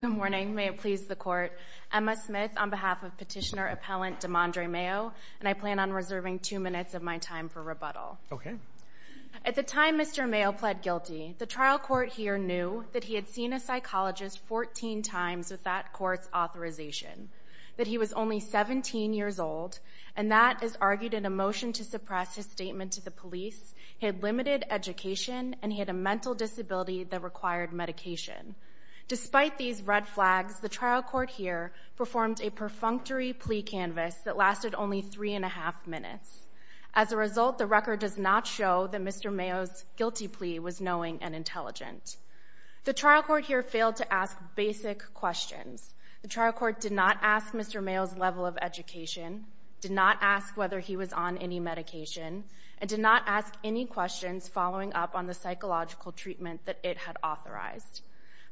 Good morning, may it please the court. Emma Smith on behalf of petitioner appellant Demondray Mayo and I plan on reserving two minutes of my time for rebuttal. Okay. At the time Mr. Mayo pled guilty, the trial court here knew that he had seen a psychologist 14 times with that court's authorization, that he was only 17 years old and that is argued in a motion to suppress his statement to the police, he had limited education and he had a mental disability that required medication. Despite these red flags, the trial court here performed a perfunctory plea canvas that lasted only three and a half minutes. As a result, the record does not show that Mr. Mayo's guilty plea was knowing and intelligent. The trial court here failed to ask basic questions. The trial court did not ask Mr. Mayo's level of education, did not ask whether he was on any medication, and did not ask any treatment that it had authorized.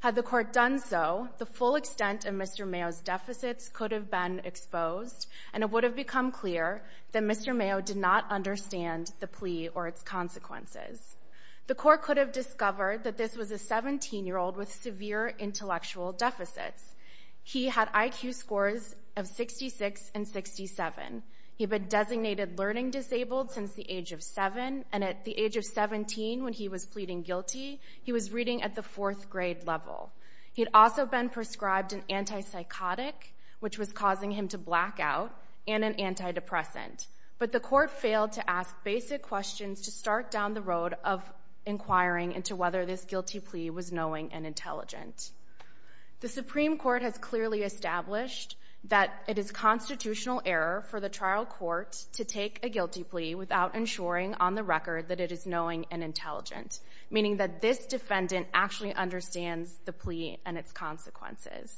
Had the court done so, the full extent of Mr. Mayo's deficits could have been exposed and it would have become clear that Mr. Mayo did not understand the plea or its consequences. The court could have discovered that this was a 17 year old with severe intellectual deficits. He had IQ scores of 66 and 67. He had been designated learning disabled since the age of 20. He was reading at the fourth grade level. He had also been prescribed an antipsychotic, which was causing him to black out, and an antidepressant. But the court failed to ask basic questions to start down the road of inquiring into whether this guilty plea was knowing and intelligent. The Supreme Court has clearly established that it is constitutional error for the trial court to take a guilty plea without ensuring on the record that it is knowing and that this defendant actually understands the plea and its consequences.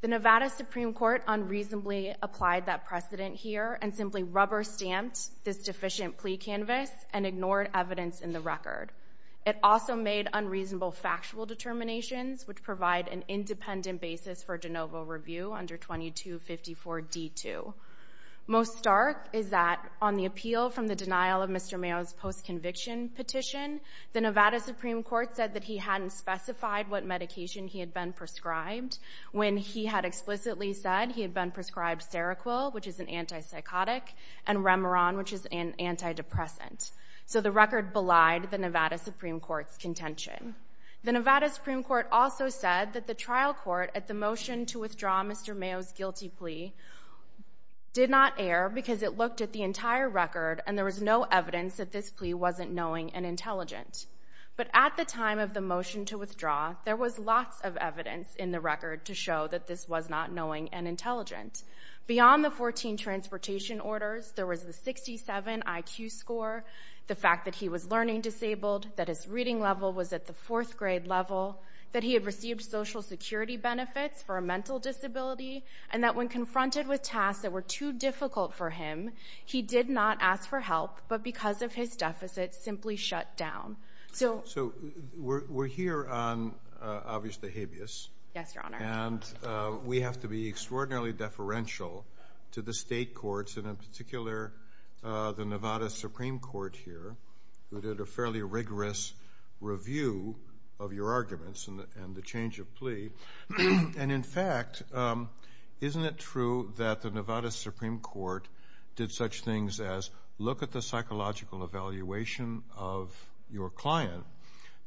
The Nevada Supreme Court unreasonably applied that precedent here and simply rubber-stamped this deficient plea canvas and ignored evidence in the record. It also made unreasonable factual determinations, which provide an independent basis for de novo review under 2254 D2. Most stark is that on the record, the Nevada Supreme Court said that he hadn't specified what medication he had been prescribed when he had explicitly said he had been prescribed Seroquel, which is an antipsychotic, and Remeron, which is an antidepressant. So the record belied the Nevada Supreme Court's contention. The Nevada Supreme Court also said that the trial court, at the motion to withdraw Mr. Mayo's guilty plea, did not err because it looked at the entire record and there was no evidence to show that this was not knowing and intelligent. But at the time of the motion to withdraw, there was lots of evidence in the record to show that this was not knowing and intelligent. Beyond the 14 transportation orders, there was the 67 IQ score, the fact that he was learning disabled, that his reading level was at the fourth grade level, that he had received Social Security benefits for a mental disability, and that when confronted with tasks that were too difficult for him, he did not ask for help, but because of his deficits, simply shut down. So we're here on, obviously, habeas. Yes, Your Honor. And we have to be extraordinarily deferential to the state courts, and in particular the Nevada Supreme Court here, who did a fairly rigorous review of your arguments and the change of plea. And in fact, isn't it true that the Nevada Supreme Court did such things as look at the psychological evaluation of your client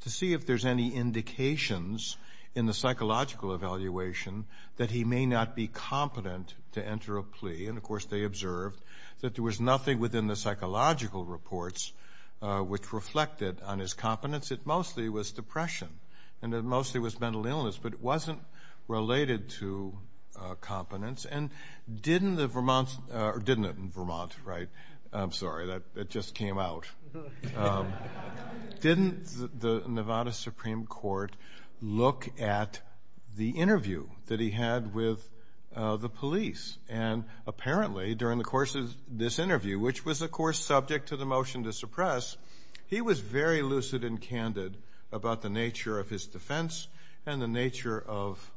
to see if there's any indications in the psychological evaluation that he may not be competent to enter a plea? And of course, they observed that there was nothing within the psychological reports which reflected on his competence. It mostly was depression, and it mostly was mental illness, but it wasn't related to competence. And didn't the Vermont, or didn't the Nevada Supreme Court look at the interview that he had with the police? And apparently, during the course of this interview, which was of course subject to the motion to suppress, he was very lucid and candid about the nature of his defense and the nature of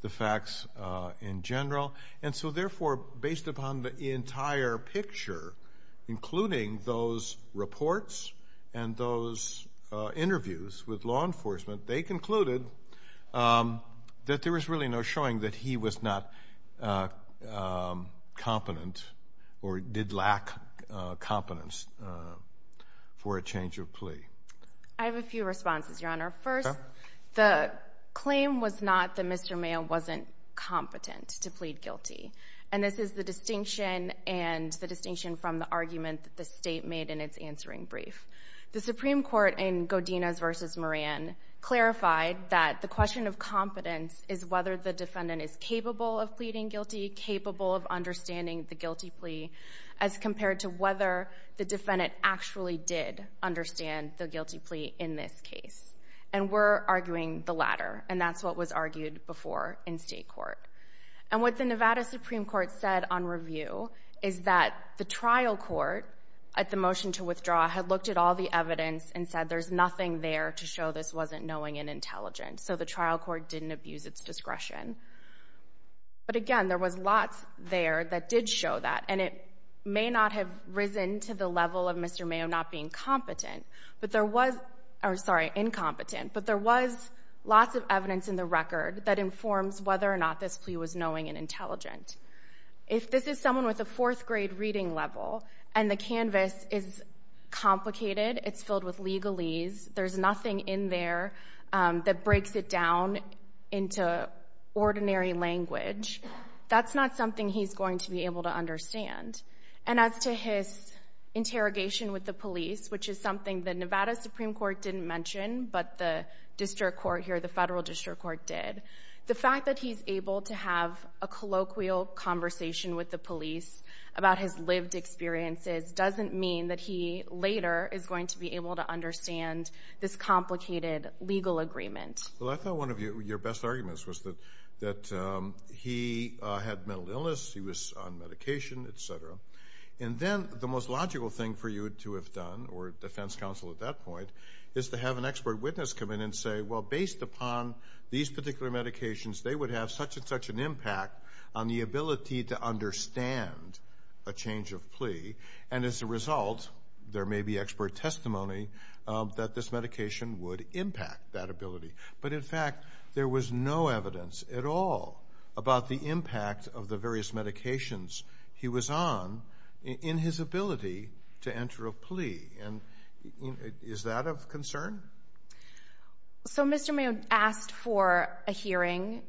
the facts in general. And so therefore, based upon the entire picture, including those reports and those interviews with law enforcement, they concluded that there was really no showing that he was not competent or did lack competence for a change of plea. I have a few responses, Your Honor. First, the claim was not that Mr. Mayo wasn't competent to plead guilty. And this is the distinction, and the distinction from the argument that the State made in its answering brief. The Supreme Court in Godinez v. Moran clarified that the question of competence is whether the defendant is capable of pleading guilty, capable of understanding the guilty plea, as compared to whether the defendant actually did understand the guilty plea in this case. And we're arguing the latter, and that's what was argued before in State court. And what the Nevada Supreme Court said on review is that the trial court, at the motion to withdraw, had looked at all the evidence and said there's nothing there to show this wasn't knowing and intelligent. So the trial court didn't abuse its discretion. But again, there was lots there that did show that, and it may not have risen to the level of Mr. Mayo not being competent, but there was—or sorry, incompetent—but there was lots of evidence in the record that informs whether or not this plea was knowing and intelligent. If this is someone with a fourth grade reading level, and the canvas is complicated, it's filled with legalese, there's nothing in there that breaks it down into ordinary language, that's not something he's going to be able to understand. And as to his interrogation with the police, which is something the Nevada Supreme Court didn't mention, but the district court here, the federal district court did, the fact that he's able to have a colloquial conversation with the police about his lived experiences doesn't mean that he later is going to be able to understand this complicated legal agreement. Well, I thought one of your best arguments was that he had mental illness, he was on medication, etc. And then the most to have an expert witness come in and say, well, based upon these particular medications, they would have such and such an impact on the ability to understand a change of plea, and as a result, there may be expert testimony that this medication would impact that ability. But in fact, there was no evidence at all about the impact of the various medications he was on in his ability to enter a plea. And is that of concern? So Mr. Mayo asked for a hearing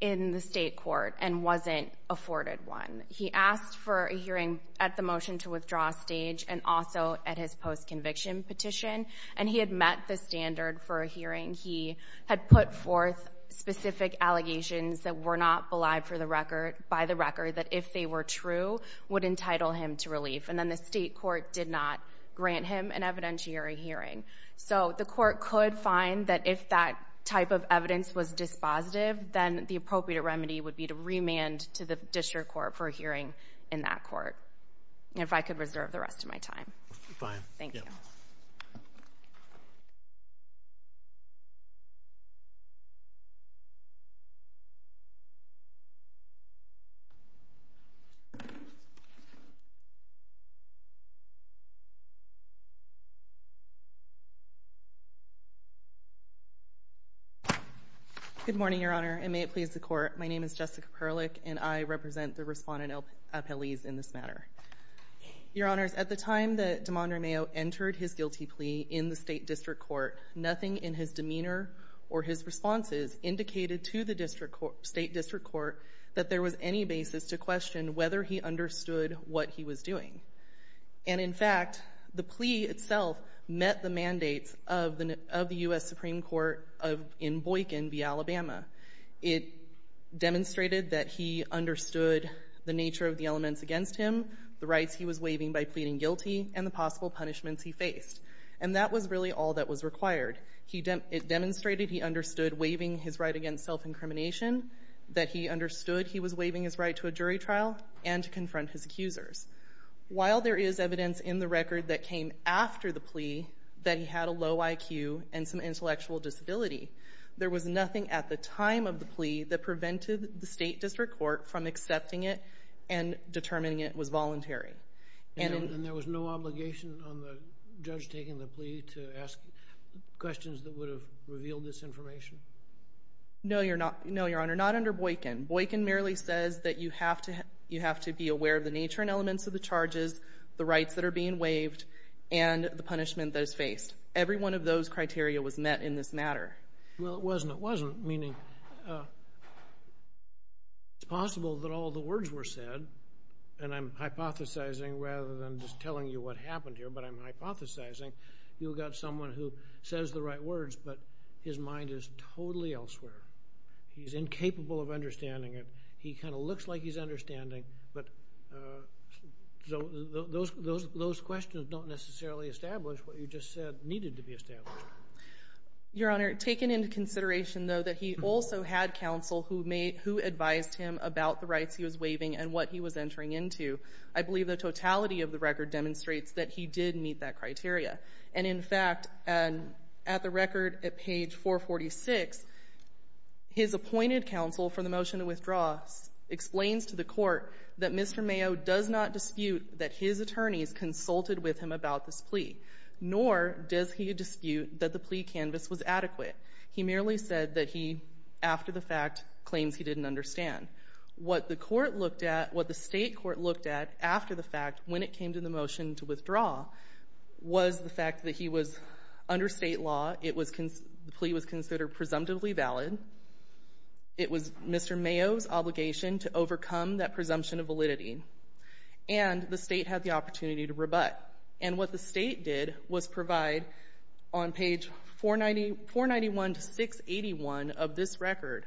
in the state court and wasn't afforded one. He asked for a hearing at the motion to withdraw stage and also at his post-conviction petition, and he had met the standard for a hearing. He had put forth specific allegations that were not belied for the record, by the record, that if they were true, would entitle him to relief. And then the state court did not grant him an evidentiary hearing. So the court could find that if that type of evidence was dispositive, then the appropriate remedy would be to remand to the district court for a hearing in that court, if I could reserve the rest of my time. Good morning, Your Honor, and may it please the court. My name is Jessica Perlich, and I represent the respondent appellees in this matter. Your Honors, at the time that Damond Ray Mayo entered his guilty plea in the state district court, nothing in his demeanor or his responses indicated to the district court, state district court, that there was any basis to question whether he understood what he was doing. And in fact, the plea itself met the mandates of the U.S. Supreme Court in Boykin v. Alabama. It demonstrated that he understood the nature of the elements against him, the rights he was waiving by pleading guilty, and the possible punishments he faced. And that was really all that was required. It demonstrated he understood waiving his right against self-incrimination, that he understood he was waiving his right to a jury trial, and to confront his accusers. While there is evidence in the record that came after the plea that he had a low IQ and some intellectual disability, there was nothing at the time of the plea that prevented the state district court from accepting it and determining it was voluntary. And there was no obligation on the judge taking the plea to ask questions that would have revealed this information? No, Your Honor, not under Boykin. Boykin merely says that you have to be aware of the nature and elements of the charges, the rights that are being waived, and the punishment that is faced. Every one of those criteria was met in this matter. Well, it wasn't. It wasn't. Meaning, it's possible that all the words were said, and I'm hypothesizing rather than just telling you what happened here, but I'm hypothesizing. You've got someone who says the right words, but his mind is understanding it. He kind of looks like he's understanding, but those questions don't necessarily establish what you just said needed to be established. Your Honor, taking into consideration, though, that he also had counsel who advised him about the rights he was waiving and what he was entering into, I believe the totality of the record demonstrates that he did meet that criteria. And in the record at page 446, his appointed counsel for the motion to withdraw explains to the court that Mr. Mayo does not dispute that his attorneys consulted with him about this plea, nor does he dispute that the plea canvas was adequate. He merely said that he, after the fact, claims he didn't understand. What the court looked at, what the State court looked at after the fact when it came to the motion to withdraw, was the fact that he was under State law, the plea was considered presumptively valid, it was Mr. Mayo's obligation to overcome that presumption of validity, and the State had the opportunity to rebut. And what the State did was provide, on page 491 to 681 of this record,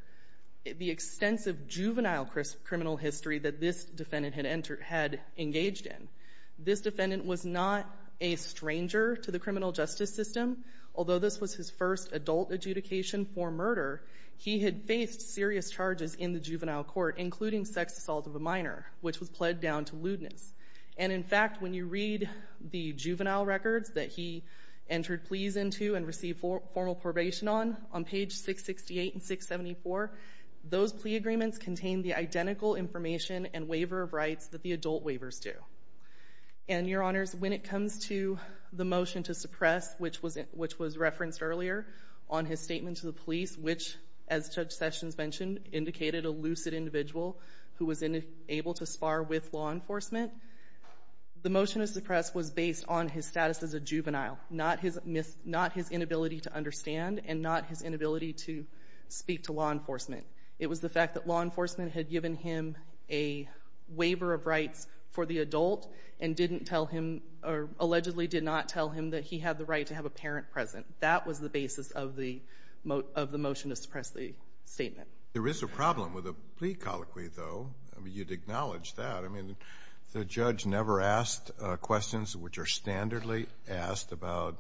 the extensive juvenile criminal history that this defendant had engaged in. This defendant was not a stranger to the criminal justice system. Although this was his first adult adjudication for murder, he had faced serious charges in the juvenile court, including sex assault of a minor, which was pled down to lewdness. And in fact, when you read the juvenile records that he entered pleas into and received formal probation on, on page 668 and 674, those plea agreements contain the identical information and waiver of rights that the adult waivers do. And, Your Honors, when it comes to the motion to suppress, which was referenced earlier on his statement to the police, which, as Judge Sessions mentioned, indicated a lucid individual who was able to spar with law enforcement, the motion to suppress was based on his status as a juvenile, not his inability to understand and not his inability to speak to law enforcement. It was the fact that law enforcement had given him a waiver of rights for the adult and didn't tell him, or allegedly did not tell him that he had the right to have a parent present. That was the basis of the, of the motion to suppress the statement. There is a problem with a plea colloquy, though. I mean, you'd acknowledge that. I mean, the judge never asked questions which are standardly asked about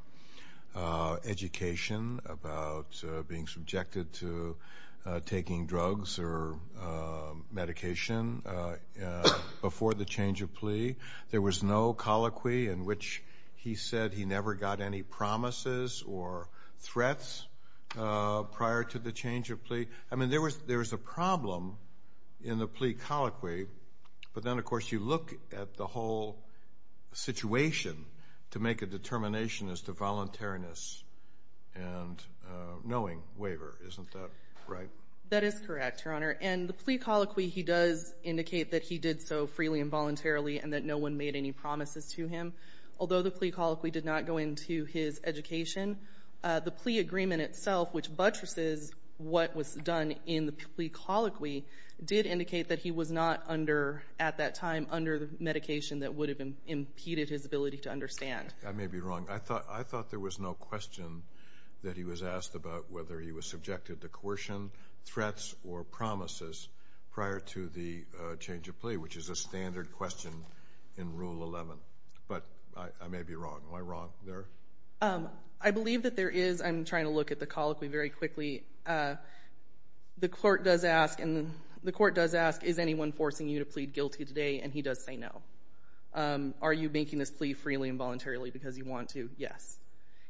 education, about being subjected to taking drugs or medication before the change of plea. There was no colloquy in which he said he never got any promises or threats prior to the change of plea. I mean, there was, there's a problem in the plea colloquy, but then, of course, you look at the whole situation to make a determination as to voluntariness and knowing waiver. Isn't that right? That is correct, Your Honor, and the plea colloquy, he does indicate that he did so freely and voluntarily and that no one made any promises to him. Although the plea colloquy did not go into his education, the plea agreement itself, which buttresses what was done in the plea colloquy, did indicate that he was not under, at that time, under the medication that would have impeded his ability to understand. I may be wrong. I thought, I thought there was no question that he was asked about whether he was subjected to coercion, threats, or promises prior to the change of plea, which is a standard question in Rule 11, but I may be wrong. Am I wrong there? I believe that there is. I'm trying to look at the colloquy very quickly. The court does ask, and the court does ask, is anyone forcing you to plead guilty today, and he does say no. Are you making this plea freely and voluntarily because you want to? Yes.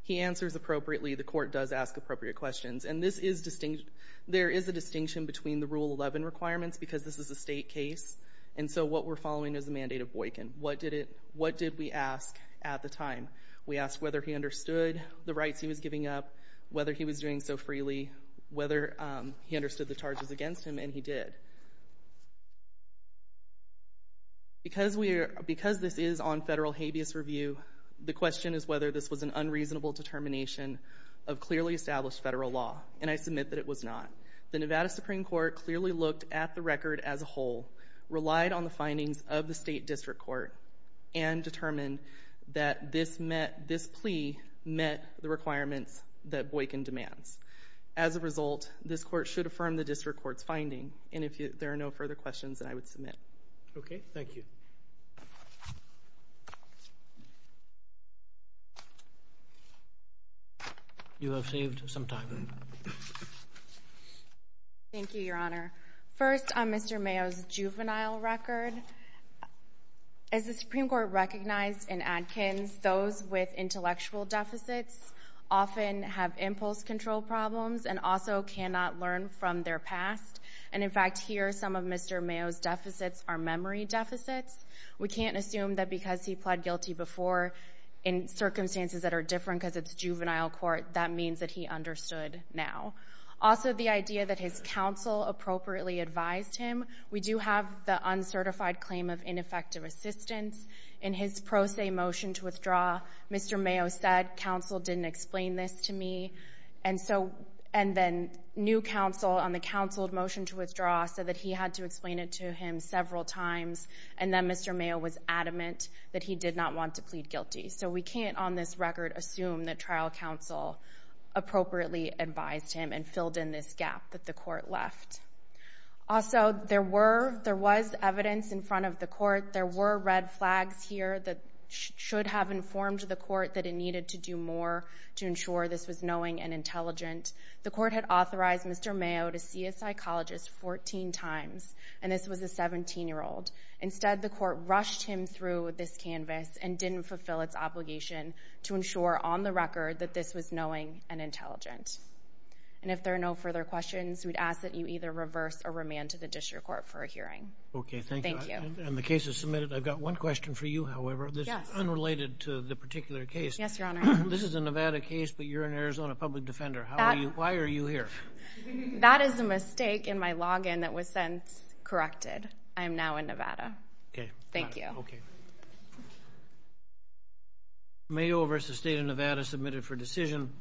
He answers appropriately. The court does ask appropriate questions, and this is distinct, there is a distinction between the Rule 11 requirements, because this is a state case, and so what we're following is the mandate of Boykin. What did it, what did we ask at the time? We asked whether he understood the rights he was giving up, whether he was doing so freely, whether he understood the charges against him, and he did. Because we're, because this is on federal habeas review, the question is whether this was an unreasonable determination of clearly established federal law, and I believe that the Supreme Court clearly looked at the record as a whole, relied on the findings of the state district court, and determined that this met, this plea met the requirements that Boykin demands. As a result, this court should affirm the district court's finding, and if there are no further questions, then I would submit. Okay, thank you. You have saved some time. Thank you, Your Honor. First, on Mr. Mayo's juvenile record, as the Supreme Court recognized in Adkins, those with intellectual deficits often have impulse control problems, and also cannot learn from their past, and in fact, here, some of Mr. Mayo's deficits are memory deficits, which can't assume that because he pled guilty before, in circumstances that are different because it's juvenile court, that means that he understood now. Also, the idea that his counsel appropriately advised him, we do have the uncertified claim of ineffective assistance. In his pro se motion to withdraw, Mr. Mayo said, counsel didn't explain this to me, and so, and then new counsel on the counseled motion to withdraw said that he had to explain it to him several times, and then Mr. Mayo was adamant that he did not want to plead guilty, so we can't, on this record, assume that trial counsel appropriately advised him and filled in this gap that the court left. Also, there were, there was evidence in front of the court, there were red flags here that should have informed the court that it needed to do more to ensure this was knowing and intelligent. The court had authorized Mr. Mayo to see a psychologist 14 times, and this was a 17-year-old. Instead, the court rushed him through this canvas and didn't fulfill its obligation to ensure, on the record, that this was knowing and intelligent. And if there are no further questions, we'd ask that you either reverse or remand to the district court for a hearing. Okay, thank you. And the case is submitted. I've got one question for you, however, this is unrelated to the particular case. Yes, Your Honor. This is a Nevada case, but you're an Arizona public defender. How are you, why are you here? That is a mistake in my login that was then corrected. I am now in Nevada. Okay. Thank you. Mayo versus State of Nevada submitted for decision.